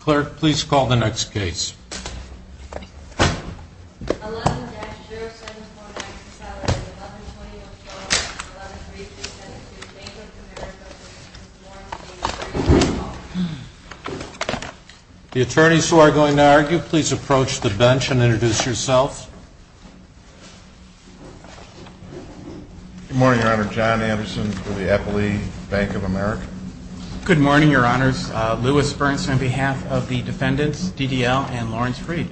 Clerk, please call the next case. The attorneys who are going to argue, please approach the bench and introduce yourselves. Good morning, Your Honor. John Anderson with the Eppley Bank of America. Good morning, Your Honors. Louis Burns on behalf of the defendants, DDL and Lawrence Freed.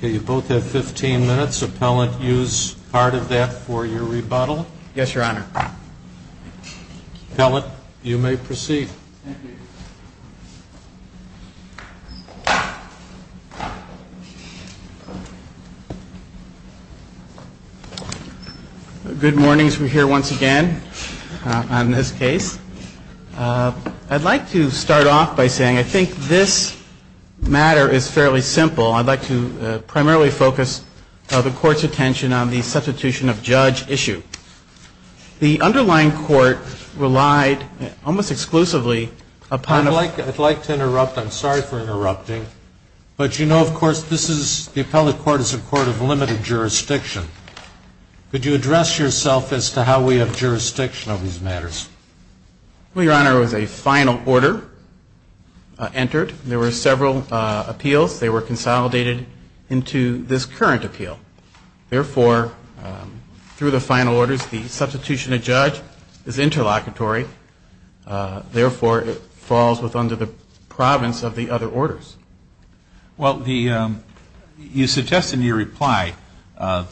You both have 15 minutes. Appellant, use part of that for your rebuttal. Yes, Your Honor. Appellant, you may proceed. Thank you. Good morning. We're here once again on this case. I'd like to start off by saying I think this matter is fairly simple. I'd like to primarily focus the Court's attention on the substitution of judge issue. The underlying court relied almost exclusively upon a I'd like to interrupt. I'm sorry for interrupting. But you know, of course, this is the appellate court is a court of limited jurisdiction. Could you address yourself as to how we have jurisdiction of these matters? Well, Your Honor, it was a final order entered. There were several appeals. They were consolidated into this current appeal. Therefore, through the final orders, the substitution of judge is interlocutory. Therefore, it falls under the province of the other orders. Well, you suggested in your reply to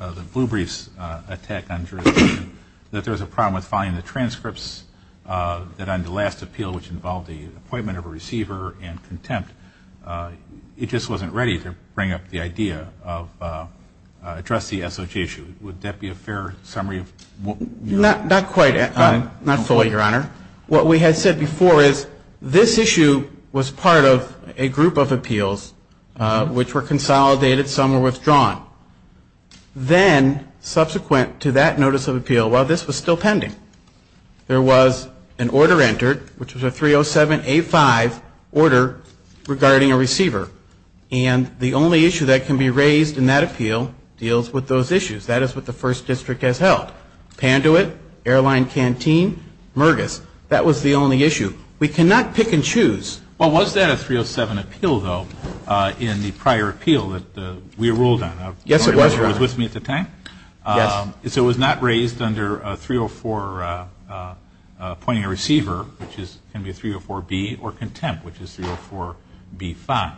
the Blue Briefs attack on jurisdiction that there was a problem with filing the transcripts that on the last appeal, which involved the appointment of a receiver and contempt, it just wasn't ready to bring up the idea of addressing the SOJ issue. Would that be a fair summary of what you're saying? Not quite. Not fully, Your Honor. What we had said before is this issue was part of a group of appeals which were consolidated. Some were withdrawn. Then subsequent to that notice of appeal, while this was still pending, there was an order entered, which was a 307A5 order regarding a receiver. And the only issue that can be raised in that appeal deals with those issues. That is what the First District has held. Panduit, Airline Canteen, Murgis. That was the only issue. We cannot pick and choose. Well, was that a 307 appeal, though, in the prior appeal that we ruled on? Yes, it was, Your Honor. The one that was with me at the time? Yes. So it was not raised under 304 appointing a receiver, which is going to be 304B, or contempt, which is 304B5.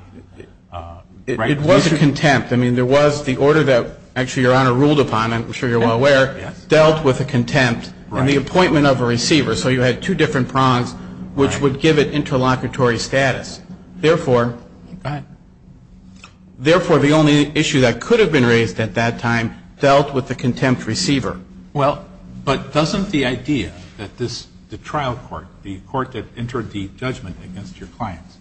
It was a contempt. I mean, there was the order that actually Your Honor ruled upon, I'm sure you're well aware, dealt with a contempt in the appointment of a receiver. So you had two different prongs, which would give it interlocutory status. Therefore, the only issue that could have been raised at that time dealt with the contempt receiver. Well, but doesn't the idea that this, the trial court, the court that entered the judgment against your clients,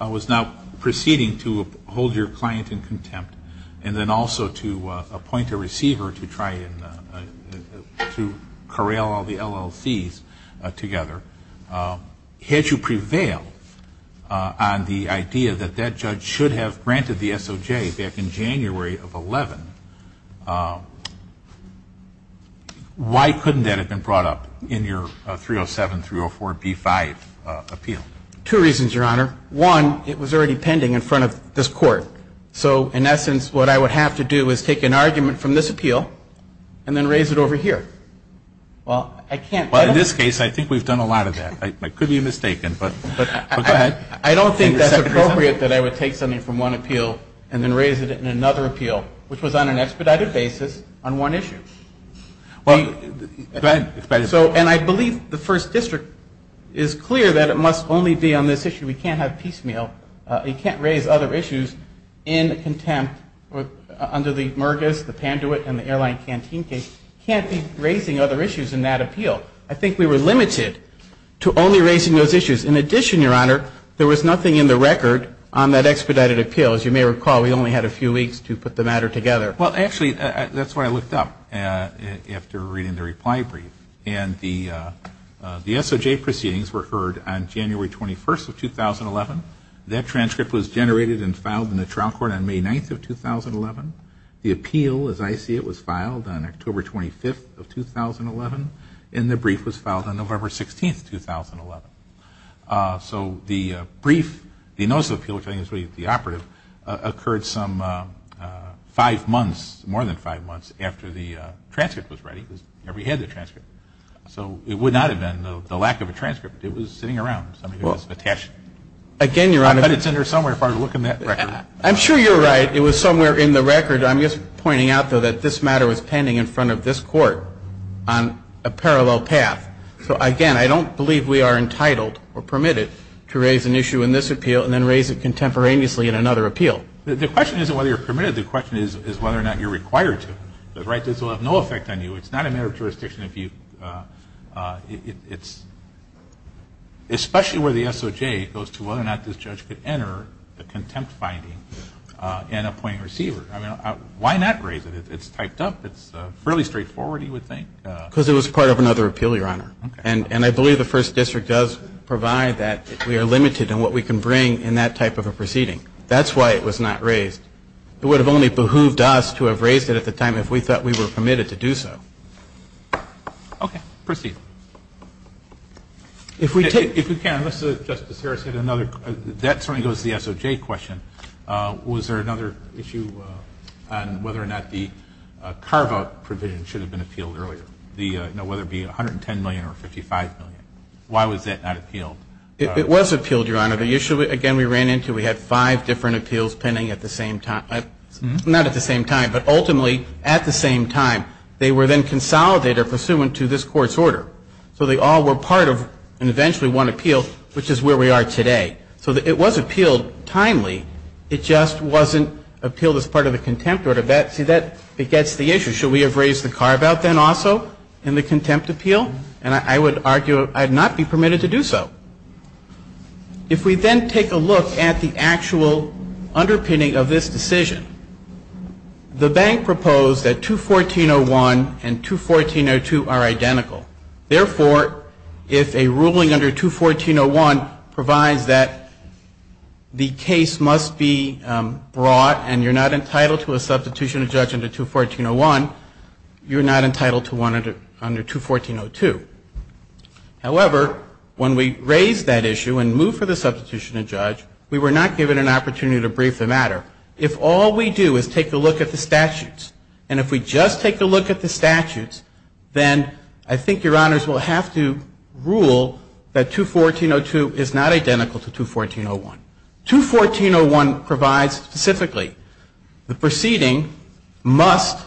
was now proceeding to hold your client in contempt and then also to appoint a receiver to try and to corral all the LLCs together. Had you prevailed on the idea that that judge should have granted the SOJ back in January of 2011, why couldn't that have been brought up in your 307, 304B5 appeal? Two reasons, Your Honor. One, it was already pending in front of this Court. So in essence, what I would have to do is take an argument from this appeal and then raise it over here. Well, I can't do that. Well, in this case, I think we've done a lot of that. I could be mistaken, but go ahead. I don't think that's appropriate that I would take something from one appeal and then raise it in another appeal, which was on an expedited basis on one issue. Go ahead. And I believe the First District is clear that it must only be on this issue. We can't have piecemeal. You can't raise other issues in contempt under the Murgis, the Panduit, and the Airline Canteen case. You can't be raising other issues in that appeal. I think we were limited to only raising those issues. In addition, Your Honor, there was nothing in the record on that expedited appeal. As you may recall, we only had a few weeks to put the matter together. Well, actually, that's what I looked up after reading the reply brief. And the SOJ proceedings were heard on January 21st of 2011. That transcript was generated and filed in the trial court on May 9th of 2011. The appeal, as I see it, was filed on October 25th of 2011, and the brief was filed on November 16th, 2011. So the brief, the notice of the appeal, which I think is really the operative, occurred some five months, more than five months, after the transcript was ready. We had the transcript. So it would not have been the lack of a transcript. It was sitting around. It was attached. Again, Your Honor. I bet it's in there somewhere if I were to look in that record. I'm sure you're right. It was somewhere in the record. I'm just pointing out, though, that this matter was pending in front of this court on a parallel path. So, again, I don't believe we are entitled or permitted to raise an issue in this appeal and then raise it contemporaneously in another appeal. The question isn't whether you're permitted. The question is whether or not you're required to. The right to this will have no effect on you. It's not a matter of jurisdiction. It's especially where the SOJ goes to whether or not this judge could enter the contempt finding and appoint a receiver. Why not raise it? It's typed up. It's fairly straightforward, you would think. Because it was part of another appeal, Your Honor. And I believe the First District does provide that. We are limited in what we can bring in that type of a proceeding. That's why it was not raised. It would have only behooved us to have raised it at the time if we thought we were permitted to do so. Okay. Proceed. If we take, if we can, unless Justice Harris had another, that certainly goes to the SOJ question. Was there another issue on whether or not the carve-out provision should have been appealed earlier, whether it be $110 million or $55 million? Why was that not appealed? It was appealed, Your Honor. The issue, again, we ran into, we had five different appeals pending at the same time. Not at the same time, but ultimately at the same time. They were then consolidated pursuant to this Court's order. So they all were part of eventually one appeal, which is where we are today. So it was appealed timely. It just wasn't appealed as part of the contempt order. See, that begets the issue. Should we have raised the carve-out then also in the contempt appeal? And I would argue I would not be permitted to do so. If we then take a look at the actual underpinning of this decision, the bank proposed that 214.01 and 214.02 are identical. Therefore, if a ruling under 214.01 provides that the case must be brought and you're not entitled to a substitution of judge under 214.01, you're not entitled to one under 214.02. However, when we raised that issue and moved for the substitution of judge, we were not given an opportunity to brief the matter. If all we do is take a look at the statutes, and if we just take a look at the I think your honors will have to rule that 214.02 is not identical to 214.01. 214.01 provides specifically the proceeding must,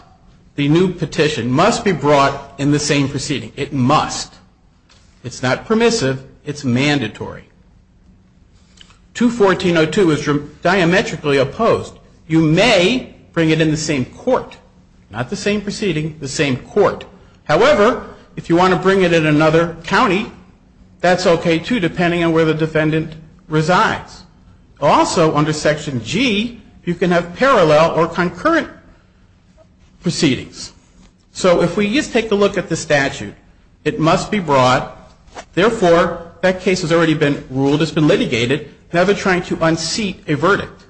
the new petition, must be brought in the same proceeding. It must. It's not permissive. It's mandatory. 214.02 is diametrically opposed. You may bring it in the same court. Not the same proceeding, the same court. However, if you want to bring it in another county, that's okay, too, depending on where the defendant resides. Also, under Section G, you can have parallel or concurrent proceedings. So if we just take a look at the statute, it must be brought. Therefore, that case has already been ruled. It's been litigated. Now they're trying to unseat a verdict.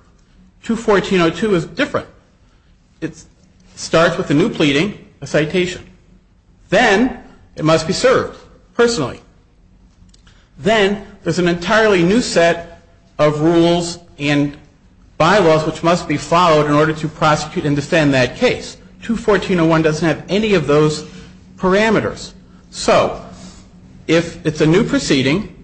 214.02 is different. It starts with a new pleading, a citation. Then it must be served personally. Then there's an entirely new set of rules and bylaws which must be followed in order to prosecute and defend that case. 214.01 doesn't have any of those parameters. So if it's a new proceeding,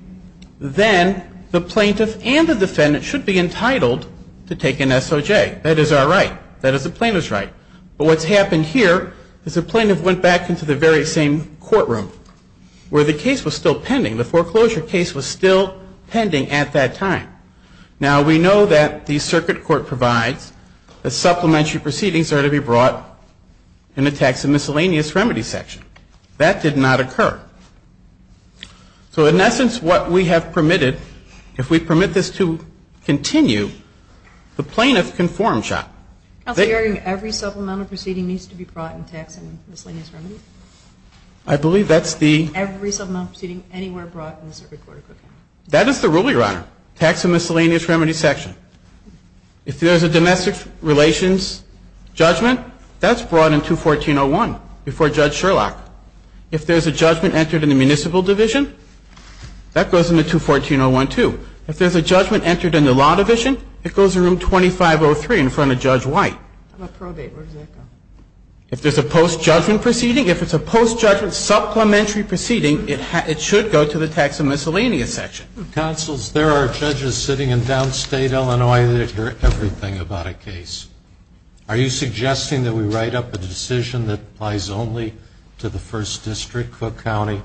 then the plaintiff and the defendant should be entitled to take an SOJ. That is our right. That is the plaintiff's right. But what's happened here is the plaintiff went back into the very same courtroom where the case was still pending. The foreclosure case was still pending at that time. Now, we know that the circuit court provides that supplementary proceedings are to be brought in the tax and miscellaneous remedy section. That did not occur. So in essence, what we have permitted, if we permit this to continue, the plaintiff can form shop. Every supplemental proceeding needs to be brought in tax and miscellaneous remedy? I believe that's the. Every supplemental proceeding anywhere brought in the circuit court. That is the rule, Your Honor, tax and miscellaneous remedy section. If there's a domestic relations judgment, that's brought in 214.01 before Judge Sherlock. If there's a judgment entered in the municipal division, that goes into 214.01 too. If there's a judgment entered in the law division, it goes to room 2503 in front of Judge White. How about probate? Where does that go? If there's a post-judgment proceeding, if it's a post-judgment supplementary proceeding, it should go to the tax and miscellaneous section. Counsel, there are judges sitting in downstate Illinois that hear everything about a case. Are you suggesting that we write up a decision that applies only to the first district, Cook County?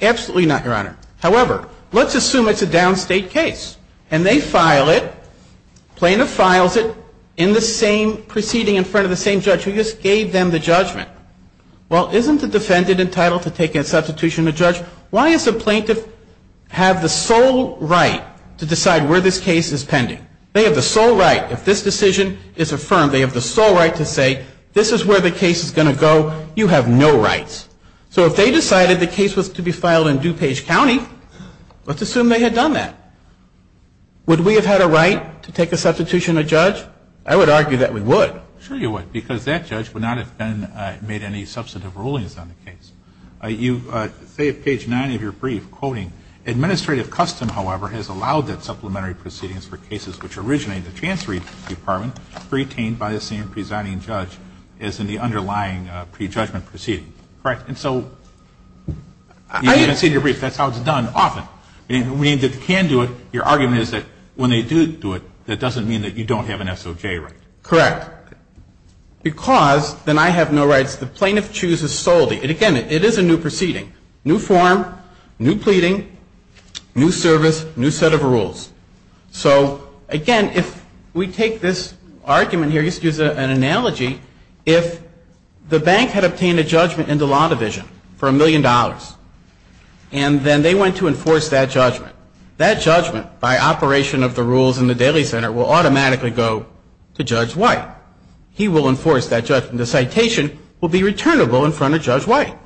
Absolutely not, Your Honor. However, let's assume it's a downstate case and they file it, plaintiff files it in the same proceeding in front of the same judge who just gave them the judgment. Well, isn't the defendant entitled to take a substitution of the judge? Why does the plaintiff have the sole right to decide where this case is pending? They have the sole right if this decision is affirmed, they have the sole right to say this is where the case is going to go. You have no rights. So if they decided the case was to be filed in DuPage County, let's assume they had done that. Would we have had a right to take a substitution of a judge? I would argue that we would. Sure you would, because that judge would not have made any substantive rulings on the case. You say at page 9 of your brief, quoting, Administrative custom, however, has allowed that supplementary proceedings for cases which originate in the chancellery department, retained by the same presiding judge as in the underlying prejudgment proceeding. Correct. And so I didn't see your brief. That's how it's done often. When you say they can do it, your argument is that when they do do it, that doesn't mean that you don't have an SOJ right. Correct. Because then I have no rights. The plaintiff chooses solely. Again, it is a new proceeding. New form, new pleading, new service, new set of rules. So, again, if we take this argument here, use an analogy, if the bank had obtained a judgment in the law division for a million dollars and then they went to enforce that judgment, that judgment, by operation of the rules in the Daly Center, will automatically go to Judge White. He will enforce that judgment. The citation will be returnable in front of Judge White.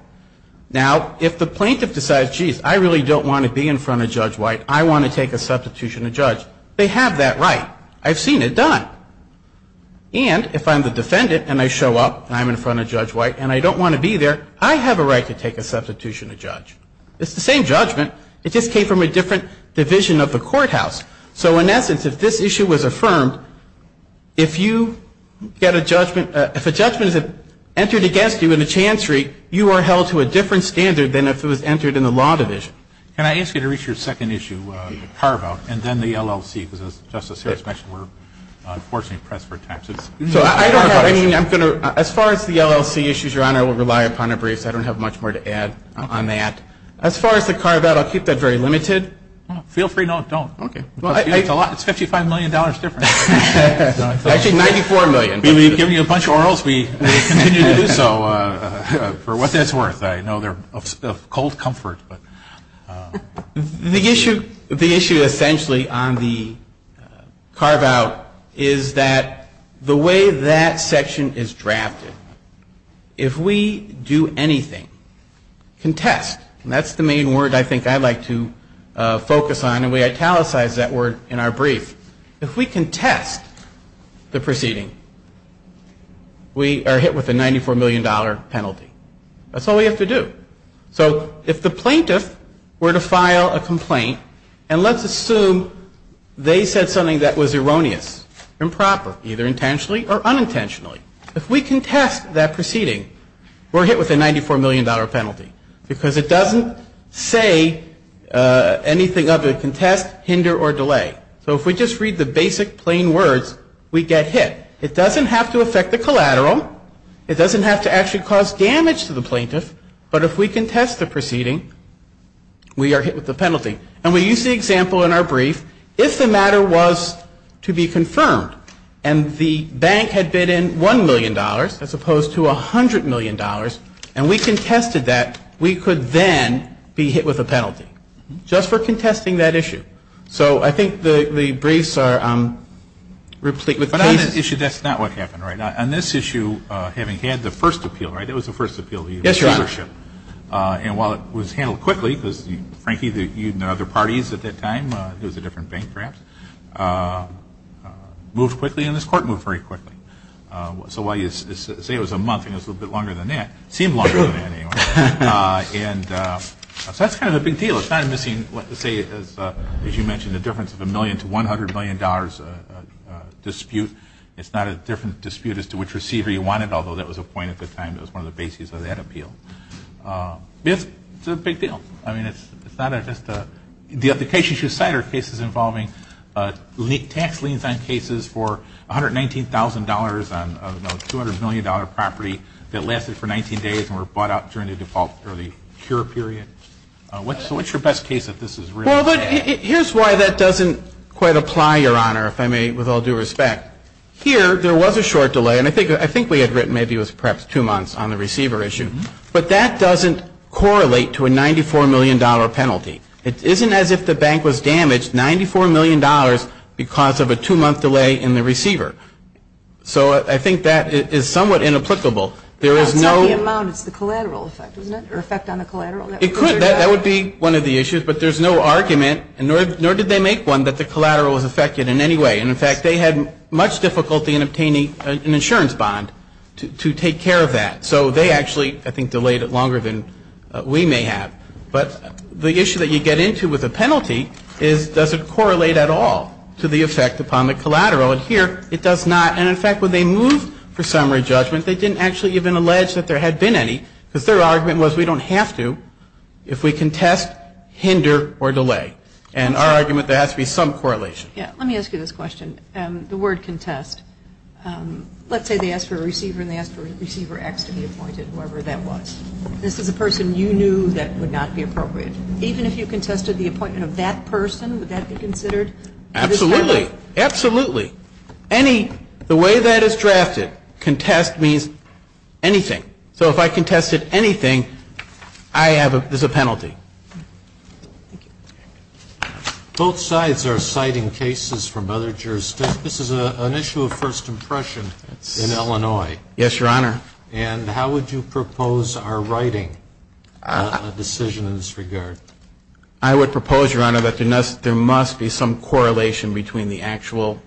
Now, if the plaintiff decides, geez, I really don't want to be in front of Judge White, I want to take a substitution of judge, they have that right. I've seen it done. And if I'm the defendant and I show up and I'm in front of Judge White and I don't want to be there, I have a right to take a substitution of judge. It's the same judgment. It just came from a different division of the courthouse. So, in essence, if this issue was affirmed, if you get a judgment, if a judgment is entered against you in a chancery, you are held to a different standard than if it was entered in the law division. Can I ask you to reach your second issue, the carve-out, and then the LLC, because, as Justice Harris mentioned, we're unfortunately pressed for time. So I don't have, I mean, I'm going to, as far as the LLC issues, Your Honor, I will rely upon a brief, so I don't have much more to add on that. As far as the carve-out, I'll keep that very limited. Feel free not to. Okay. It's $55 million different. Actually, $94 million. We've given you a bunch of orals. We continue to do so for what that's worth. I know they're of cold comfort. The issue essentially on the carve-out is that the way that section is drafted, if we do anything, contest, and that's the main word I think I'd like to focus on, and we italicized that word in our brief. If we contest the proceeding, we are hit with a $94 million penalty. That's all we have to do. So if the plaintiff were to file a complaint, and let's assume they said something that was erroneous, improper, either intentionally or unintentionally, if we contest that proceeding, we're hit with a $94 million penalty, because it doesn't say anything other than contest, hinder, or delay. So if we just read the basic, plain words, we get hit. It doesn't have to affect the collateral. It doesn't have to actually cause damage to the plaintiff. But if we contest the proceeding, we are hit with a penalty. And we use the example in our brief, if the matter was to be confirmed, and the bank had bid in $1 million, as opposed to $100 million, and we contested that, we could then be hit with a penalty, just for contesting that issue. So I think the briefs are replete with cases. But on that issue, that's not what happened, right? On this issue, having had the first appeal, right? It was the first appeal. Yes, Your Honor. And while it was handled quickly, because, Frankie, you and the other parties at that time, it was a different bank perhaps, moved quickly and this court moved very quickly. So while you say it was a month and it was a little bit longer than that, it seemed longer than that anyway. And so that's kind of the big deal. It's not missing, let's say, as you mentioned, the difference of a million to $100 million dispute. It's not a different dispute as to which receiver you wanted, although that was a point at the time that was one of the bases of that appeal. But it's a big deal. I mean, it's not just a – the application should cite our cases involving tax liens on cases for $119,000 on a $200 million property that lasted for 19 days and were bought out during the default or the cure period. So what's your best case if this is really bad? Well, here's why that doesn't quite apply, Your Honor, if I may, with all due respect. Here, there was a short delay, and I think we had written maybe it was perhaps two months on the receiver issue. But that doesn't correlate to a $94 million penalty. It isn't as if the bank was damaged $94 million because of a two-month delay in the receiver. So I think that is somewhat inapplicable. There is no – It's not the amount. It's the collateral effect, isn't it, or effect on the collateral? It could. That would be one of the issues. But there's no argument, nor did they make one, that the collateral was affected in any way. And, in fact, they had much difficulty in obtaining an insurance bond to take care of that. So they actually, I think, delayed it longer than we may have. But the issue that you get into with a penalty is does it correlate at all to the effect upon the collateral? And here, it does not. And, in fact, when they moved for summary judgment, they didn't actually even allege that there had been any because their argument was we don't have to if we can test, hinder, or delay. And our argument, there has to be some correlation. Yeah. Let me ask you this question. The word contest, let's say they ask for a receiver and they ask for receiver X to be appointed, whoever that was. This is a person you knew that would not be appropriate. Even if you contested the appointment of that person, would that be considered? Absolutely. Absolutely. Any – the way that is drafted, contest means anything. So if I contested anything, I have – there's a penalty. Thank you. Both sides are citing cases from other jurisdictions. This is an issue of first impression in Illinois. Yes, Your Honor. And how would you propose our writing a decision in this regard? I would propose, Your Honor, that there must be some correlation between the actual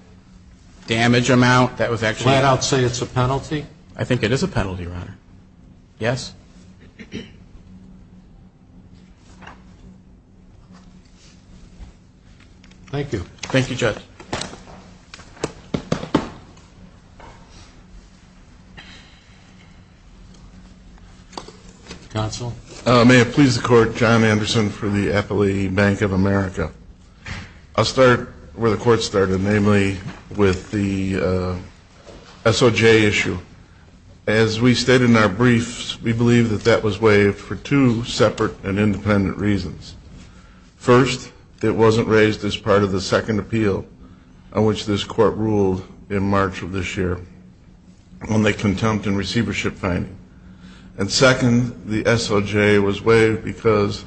damage amount that was actually Flat out say it's a penalty? I think it is a penalty, Your Honor. Yes. Thank you. Thank you, Judge. Counsel. May it please the Court, John Anderson for the Appellee Bank of America. I'll start where the Court started, namely with the SOJ issue. As we stated in our briefs, we believe that that was waived for two separate and independent reasons. First, it wasn't raised as part of the second appeal on which this Court ruled in March of this year on the contempt and receivership finding. And second, the SOJ was waived because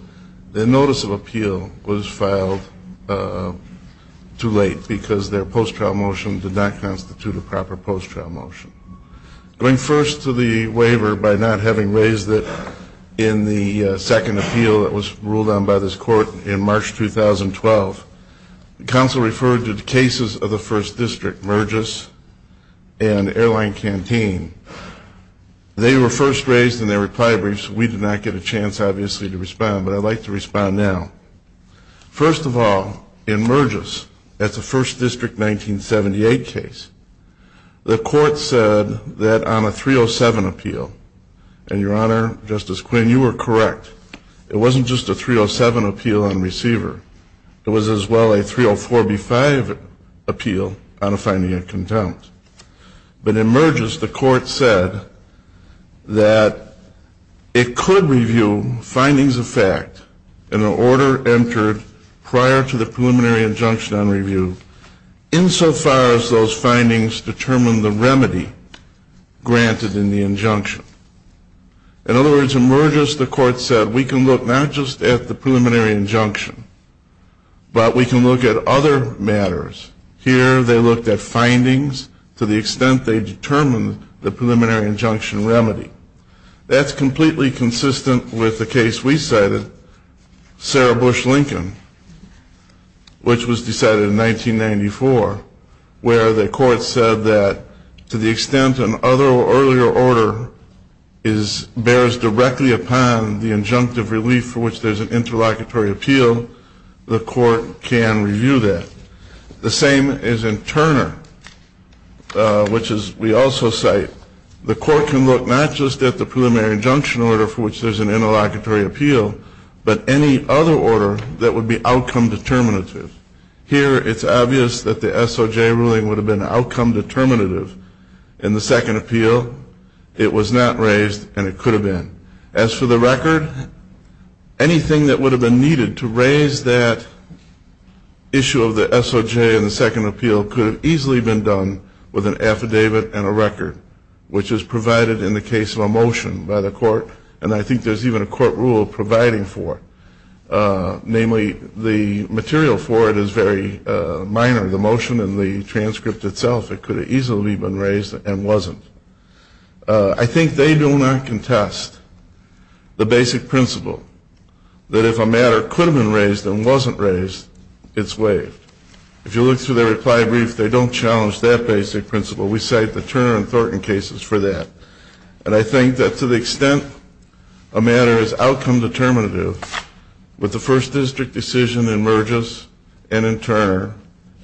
the notice of appeal was filed too late because their post-trial motion did not constitute a proper post-trial motion. Going first to the waiver by not having raised it in the second appeal that was ruled on by this Court in March 2012, counsel referred to the cases of the First District, Murgis and Airline Canteen. They were first raised in their reply briefs. We did not get a chance, obviously, to respond, but I'd like to respond now. First of all, in Murgis, that's a First District 1978 case. The Court said that on a 307 appeal, and, Your Honor, Justice Quinn, you were correct. It wasn't just a 307 appeal on receiver. It was as well a 304b-5 appeal on a finding of contempt. But in Murgis, the Court said that it could review findings of fact and the order entered prior to the preliminary injunction on review insofar as those findings determine the remedy granted in the injunction. In other words, in Murgis, the Court said we can look not just at the preliminary injunction, but we can look at other matters. Here they looked at findings to the extent they determined the preliminary injunction remedy. That's completely consistent with the case we cited, Sarah Bush Lincoln, which was decided in 1994, where the Court said that to the extent an earlier order bears directly upon the injunctive relief for which there's an interlocutory appeal, the Court can review that. The same is in Turner, which we also cite. The Court can look not just at the preliminary injunction order for which there's an interlocutory appeal, but any other order that would be outcome determinative. Here it's obvious that the SOJ ruling would have been outcome determinative in the second appeal. It was not raised, and it could have been. As for the record, anything that would have been needed to raise that issue of the SOJ in the second appeal could have easily been done with an affidavit and a record, which is provided in the case of a motion by the Court, and I think there's even a court rule providing for it. Namely, the material for it is very minor. The motion and the transcript itself, it could have easily been raised and wasn't. I think they do not contest the basic principle that if a matter could have been raised and wasn't raised, it's waived. If you look through the reply brief, they don't challenge that basic principle. We cite the Turner and Thornton cases for that. And I think that to the extent a matter is outcome determinative, with the first district decision in Merges and in Turner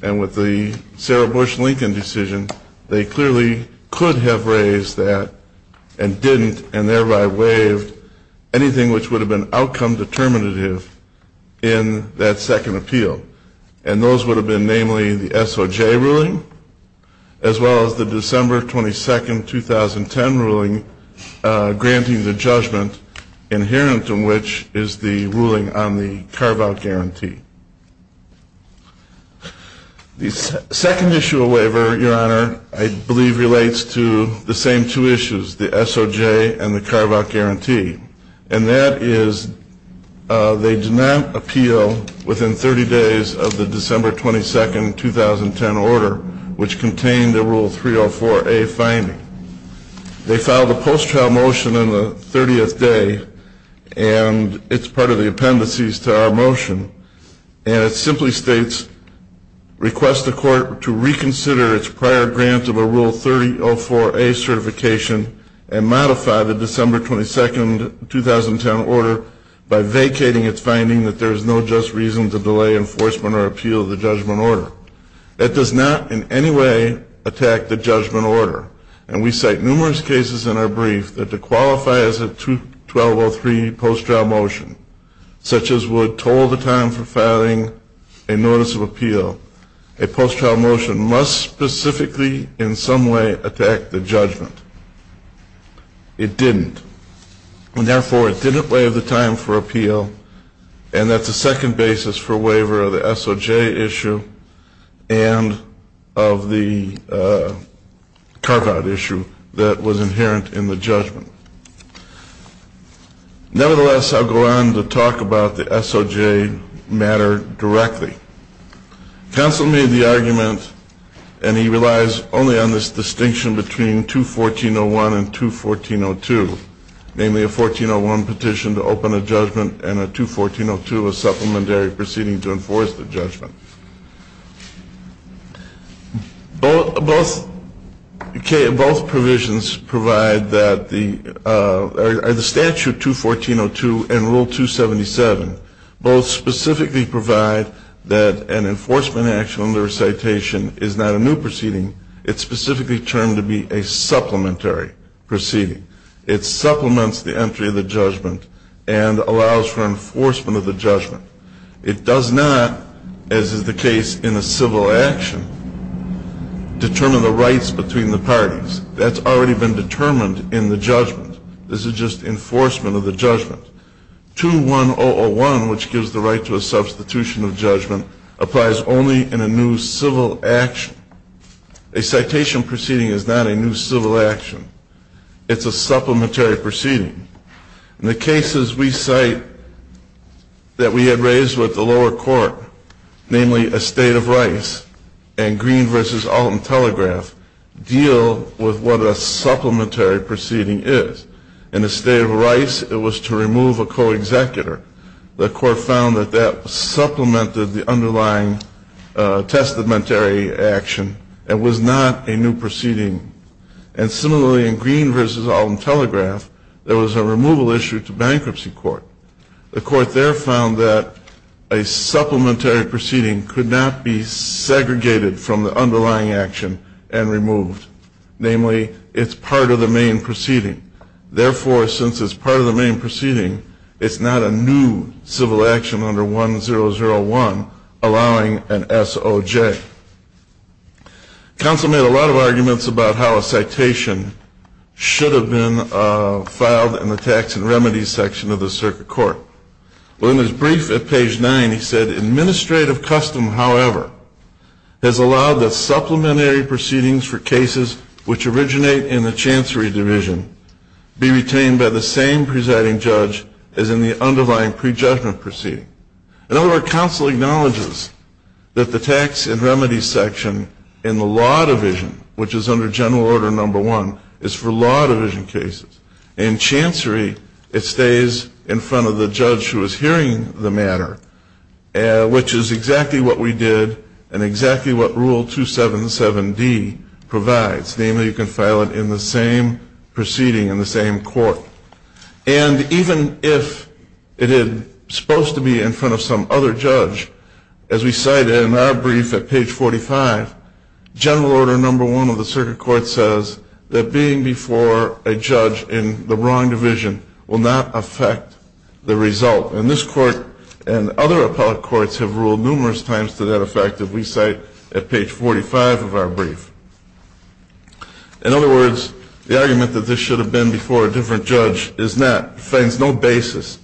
and with the Sarah Bush Lincoln decision, they clearly could have raised that and didn't, and thereby waived anything which would have been outcome determinative in that second appeal. And those would have been namely the SOJ ruling as well as the December 22, 2010 ruling granting the judgment inherent in which is the ruling on the carve-out guarantee. The second issue of waiver, Your Honor, I believe relates to the same two issues, the SOJ and the carve-out guarantee. And that is they did not appeal within 30 days of the December 22, 2010 order, which contained the Rule 304A finding. They filed a post-trial motion on the 30th day, and it's part of the appendices to our motion. And it simply states, request the court to reconsider its prior grant of a Rule 3004A certification and modify the December 22, 2010 order by vacating its finding that there is no just reason to delay enforcement or appeal the judgment order. That does not in any way attack the judgment order. And we cite numerous cases in our brief that to qualify as a 1203 post-trial motion, such as would toll the time for filing a notice of appeal, a post-trial motion must specifically in some way attack the judgment. It didn't. And therefore, it didn't waive the time for appeal, and that's the second basis for waiver of the SOJ issue and of the carve-out issue that was inherent in the judgment. Nevertheless, I'll go on to talk about the SOJ matter directly. Counsel made the argument, and he relies only on this distinction between 214-01 and 214-02, namely a 1401 petition to open a judgment and a 214-02, a supplementary proceeding to enforce the judgment. Both provisions provide that the statute 214-02 and rule 277 both specifically provide that an enforcement action under a citation is not a new proceeding. It's specifically termed to be a supplementary proceeding. It supplements the entry of the judgment and allows for enforcement of the judgment. It does not, as is the case in a civil action, determine the rights between the parties. That's already been determined in the judgment. This is just enforcement of the judgment. 21001, which gives the right to a substitution of judgment, applies only in a new civil action. A citation proceeding is not a new civil action. It's a supplementary proceeding. In the cases we cite that we had raised with the lower court, namely Estate of Rice and Green v. Alton Telegraph, deal with what a supplementary proceeding is. In Estate of Rice, it was to remove a co-executor. The court found that that supplemented the underlying testamentary action and was not a new proceeding. And similarly in Green v. Alton Telegraph, there was a removal issue to bankruptcy court. The court there found that a supplementary proceeding could not be segregated from the underlying action and removed. Namely, it's part of the main proceeding. Therefore, since it's part of the main proceeding, it's not a new civil action under 1001 allowing an SOJ. Counsel made a lot of arguments about how a citation should have been filed in the Tax and Remedies section of the circuit court. Well, in his brief at page 9, he said, Administrative custom, however, has allowed the supplementary proceedings for cases which originate in the chancery division be retained by the same presiding judge as in the underlying prejudgment proceeding. In other words, counsel acknowledges that the Tax and Remedies section in the law division, which is under general order number one, is for law division cases. In chancery, it stays in front of the judge who is hearing the matter, which is exactly what we did and exactly what Rule 277D provides. Namely, you can file it in the same proceeding, in the same court. And even if it is supposed to be in front of some other judge, as we cite in our brief at page 45, general order number one of the circuit court says that being before a judge in the wrong division will not affect the result. And this court and other appellate courts have ruled numerous times to that effect, as we cite at page 45 of our brief. In other words, the argument that this should have been before a different judge is not, finds no basis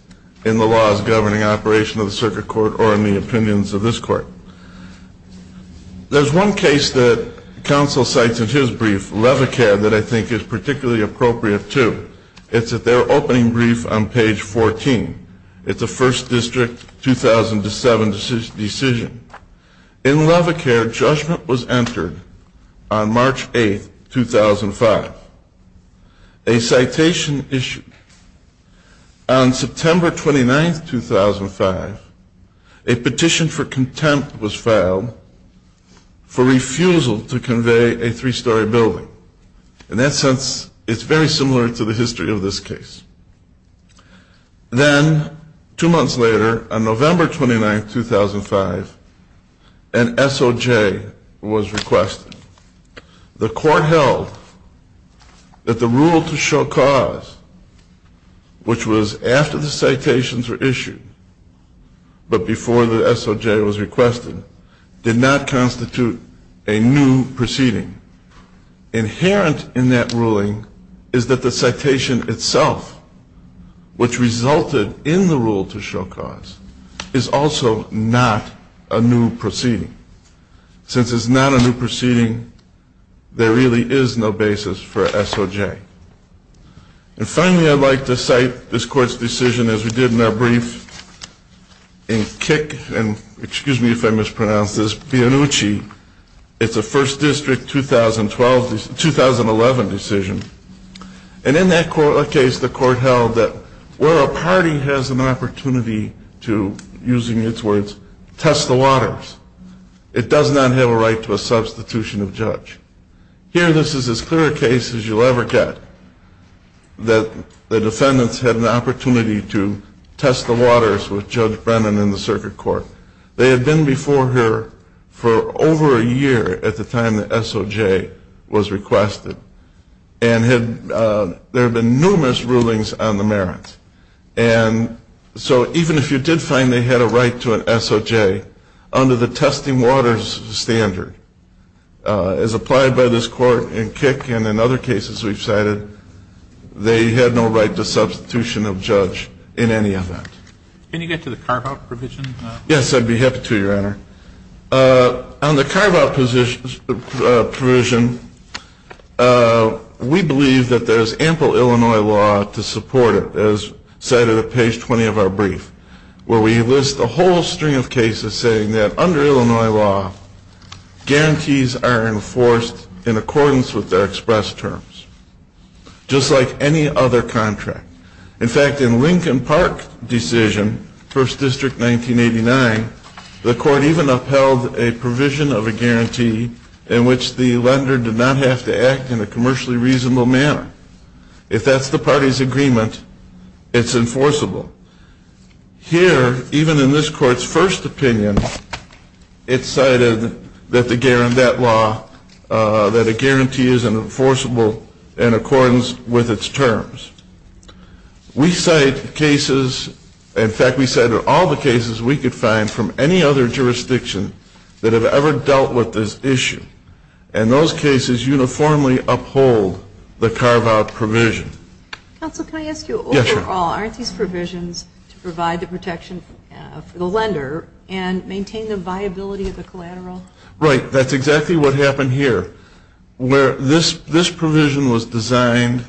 in the laws governing operation of the circuit court or in the opinions of this court. There's one case that counsel cites in his brief, Levecaire, that I think is particularly appropriate, too. It's at their opening brief on page 14. It's a First District 2007 decision. In Levecaire, judgment was entered on March 8, 2005. A citation issue. On September 29, 2005, a petition for contempt was filed for refusal to convey a three-story building. In that sense, it's very similar to the history of this case. Then, two months later, on November 29, 2005, an SOJ was requested. The court held that the rule to show cause, which was after the citations were issued, but before the SOJ was requested, did not constitute a new proceeding. Inherent in that ruling is that the citation itself, which resulted in the rule to show cause, is also not a new proceeding. Since it's not a new proceeding, there really is no basis for SOJ. And finally, I'd like to cite this court's decision, as we did in our brief, in Kick and, excuse me if I mispronounce this, Pianucci. It's a First District 2011 decision. And in that case, the court held that where a party has an opportunity to, using its words, test the waters, it does not have a right to a substitution of judge. Here, this is as clear a case as you'll ever get, that the defendants had an opportunity to test the waters with Judge Brennan in the circuit court. They had been before her for over a year at the time the SOJ was requested. And there had been numerous rulings on the merits. And so even if you did find they had a right to an SOJ, under the testing waters standard, as applied by this court in Kick and in other cases we've cited, they had no right to substitution of judge in any event. Can you get to the carve-out provision? Yes, I'd be happy to, Your Honor. On the carve-out provision, we believe that there's ample Illinois law to support it, as cited at page 20 of our brief, where we list a whole string of cases saying that under Illinois law, guarantees are enforced in accordance with their express terms, just like any other contract. In fact, in Lincoln Park decision, First District 1989, the court even upheld a provision of a guarantee in which the lender did not have to act in a commercially reasonable manner. If that's the party's agreement, it's enforceable. Here, even in this court's first opinion, it's cited that the guarantee isn't enforceable in accordance with its terms. We cite cases, in fact we cite all the cases we could find from any other jurisdiction that have ever dealt with this issue. And those cases uniformly uphold the carve-out provision. Counsel, can I ask you overall, aren't these provisions to provide the protection for the lender and maintain the viability of the collateral? Right, that's exactly what happened here. This provision was designed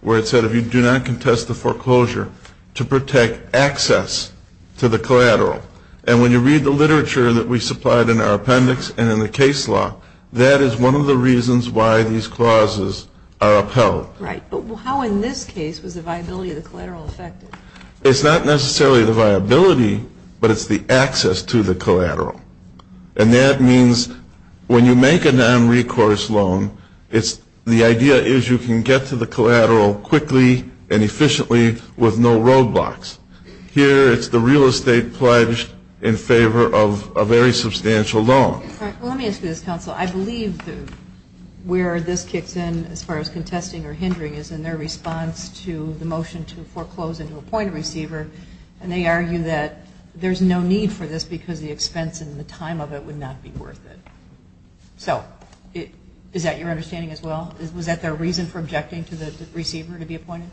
where it said if you do not contest the foreclosure to protect access to the collateral. And when you read the literature that we supplied in our appendix and in the case law, that is one of the reasons why these clauses are upheld. Right, but how in this case was the viability of the collateral affected? It's not necessarily the viability, but it's the access to the collateral. And that means when you make a non-recourse loan, the idea is you can get to the collateral quickly and efficiently with no roadblocks. Here it's the real estate pledged in favor of a very substantial loan. Well, let me ask you this, Counsel. I believe where this kicks in as far as contesting or hindering is in their response to the motion to foreclose and to appoint a receiver. And they argue that there's no need for this because the expense and the time of it would not be worth it. So is that your understanding as well? Was that their reason for objecting to the receiver to be appointed?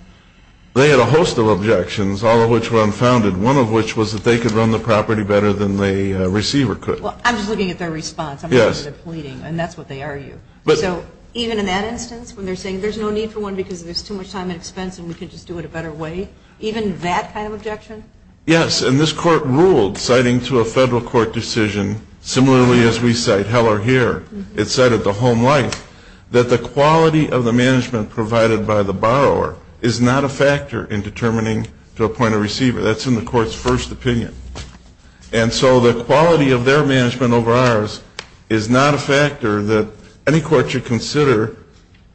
They had a host of objections, all of which were unfounded, one of which was that they could run the property better than the receiver could. Well, I'm just looking at their response. I'm not looking at their pleading, and that's what they argue. So even in that instance when they're saying there's no need for one because there's too much time and expense and we can just do it a better way, even that kind of objection? Yes, and this Court ruled, citing to a federal court decision, similarly as we cite Heller here, it cited the home life, that the quality of the management provided by the borrower is not a factor in determining to appoint a receiver. That's in the Court's first opinion. And so the quality of their management over ours is not a factor that any court should consider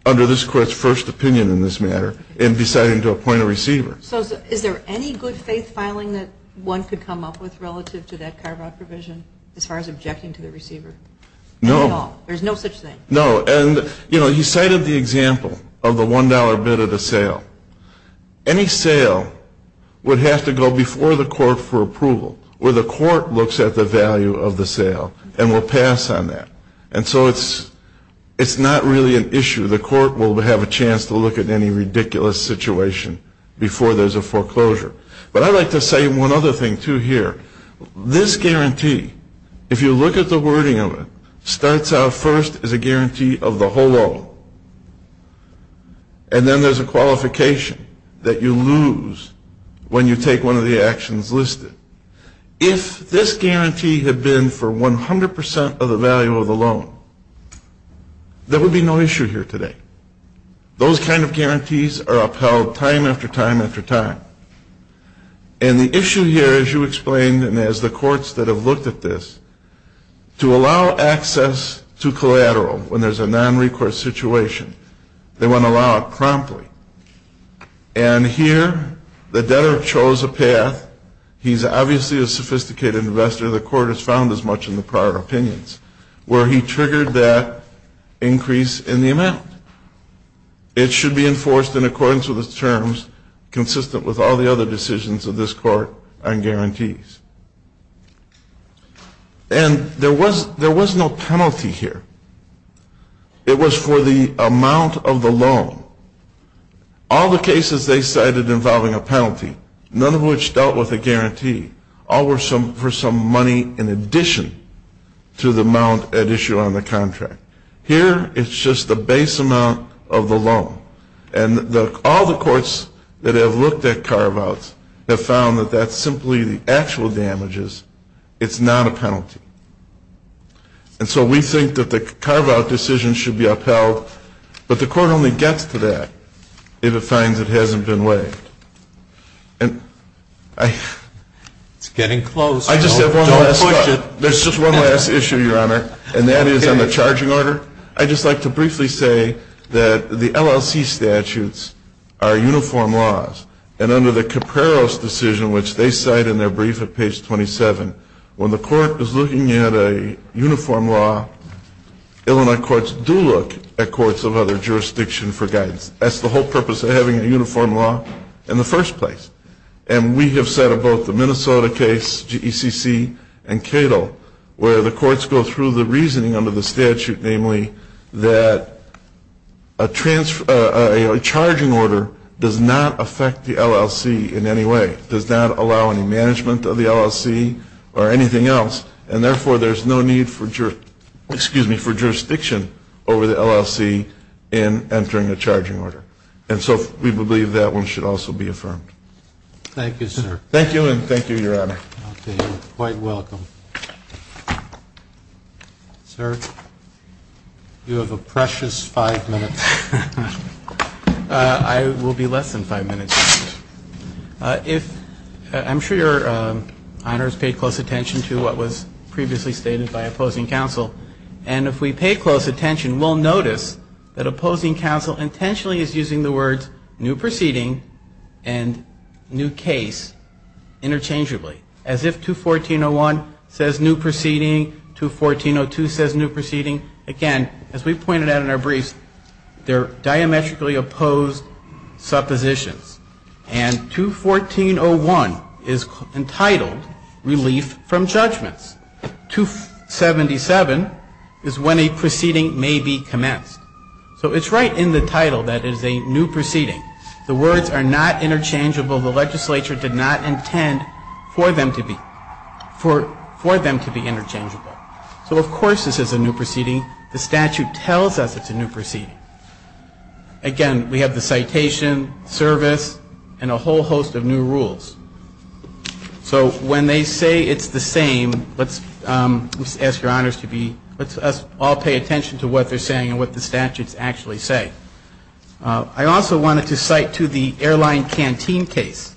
under this Court's first opinion in this matter in deciding to appoint a receiver. So is there any good faith filing that one could come up with relative to that carve-out provision as far as objecting to the receiver? No. There's no such thing? No. And, you know, he cited the example of the $1 bid at a sale. Any sale would have to go before the court for approval where the court looks at the value of the sale and will pass on that. And so it's not really an issue. The court will have a chance to look at any ridiculous situation before there's a foreclosure. But I'd like to say one other thing, too, here. This guarantee, if you look at the wording of it, starts out first as a guarantee of the whole loan. And then there's a qualification that you lose when you take one of the actions listed. If this guarantee had been for 100% of the value of the loan, there would be no issue here today. Those kind of guarantees are upheld time after time after time. And the issue here, as you explained and as the courts that have looked at this, to allow access to collateral when there's a nonrecourse situation. They want to allow it promptly. And here the debtor chose a path. He's obviously a sophisticated investor. The court has found as much in the prior opinions where he triggered that increase in the amount. It should be enforced in accordance with the terms consistent with all the other decisions of this court on guarantees. And there was no penalty here. It was for the amount of the loan. All the cases they cited involving a penalty, none of which dealt with a guarantee, all were for some money in addition to the amount at issue on the contract. Here it's just the base amount of the loan. And all the courts that have looked at carve-outs have found that that's simply the actual damages. It's not a penalty. And so we think that the carve-out decision should be upheld. But the court only gets to that if it finds it hasn't been weighed. It's getting close. Don't push it. There's just one last issue, Your Honor. And that is on the charging order. I'd just like to briefly say that the LLC statutes are uniform laws. And under the Caperos decision, which they cite in their brief at page 27, when the court is looking at a uniform law, Illinois courts do look at courts of other jurisdiction for guidance. That's the whole purpose of having a uniform law in the first place. And we have said about the Minnesota case, GECC, and Cato, where the courts go through the reasoning under the statute, namely, that a charging order does not affect the LLC in any way, does not allow any management of the LLC or anything else, and therefore there's no need for jurisdiction over the LLC in entering a charging order. And so we believe that one should also be affirmed. Thank you, sir. Thank you, and thank you, Your Honor. Okay. You're quite welcome. Sir, you have a precious five minutes. I will be less than five minutes. I'm sure Your Honor has paid close attention to what was previously stated by opposing counsel. And if we pay close attention, we'll notice that opposing counsel intentionally is using the words new proceeding and new case interchangeably. As if 214.01 says new proceeding, 214.02 says new proceeding. Again, as we pointed out in our briefs, they're diametrically opposed suppositions. And 214.01 is entitled relief from judgments. 277 is when a proceeding may be commenced. So it's right in the title that it is a new proceeding. The words are not interchangeable. The legislature did not intend for them to be interchangeable. So, of course, this is a new proceeding. The statute tells us it's a new proceeding. Again, we have the citation, service, and a whole host of new rules. So when they say it's the same, let's ask Your Honors to be, let's all pay attention to what they're saying and what the statutes actually say. I also wanted to cite to the Airline Canteen case.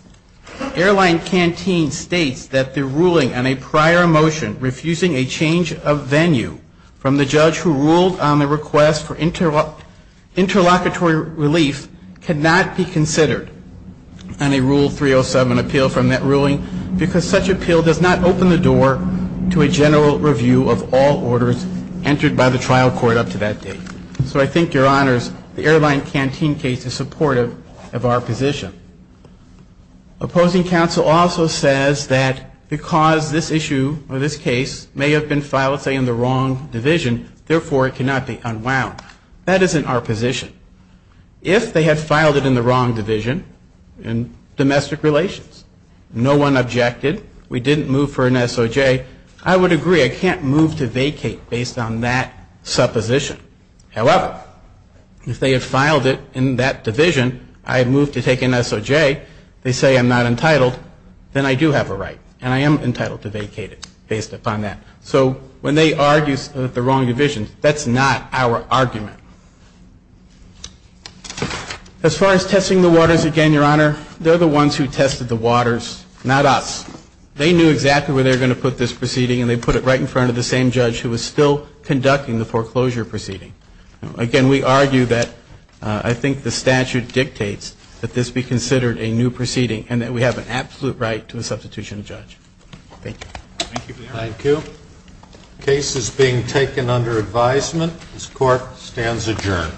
Airline Canteen states that the ruling on a prior motion refusing a change of venue from the judge who ruled on the request for interlocutory relief cannot be considered on a Rule 307 objection. So I think Your Honors, the Airline Canteen case is supportive of our position. Opposing counsel also says that because this issue or this case may have been filed, say, in the wrong division, therefore it cannot be unwound. That isn't our position. If they had filed it in the wrong division, in domestic relations, no one objected, we didn't move for an SOJ, I would agree. I can't move to vacate based on that supposition. However, if they have filed it in that division, I move to take an SOJ, they say I'm not entitled, then I do have a right and I am entitled to vacate it based upon that. So when they argue the wrong division, that's not our argument. As far as testing the waters again, Your Honor, they're the ones who tested the waters, not us. They knew exactly where they were going to put this proceeding and they put it right in front of the same judge who was still conducting the foreclosure proceeding. Again, we argue that I think the statute dictates that this be considered a new proceeding and that we have an absolute right to a substitution of judge. Thank you. Thank you. The case is being taken under advisement. This court stands adjourned.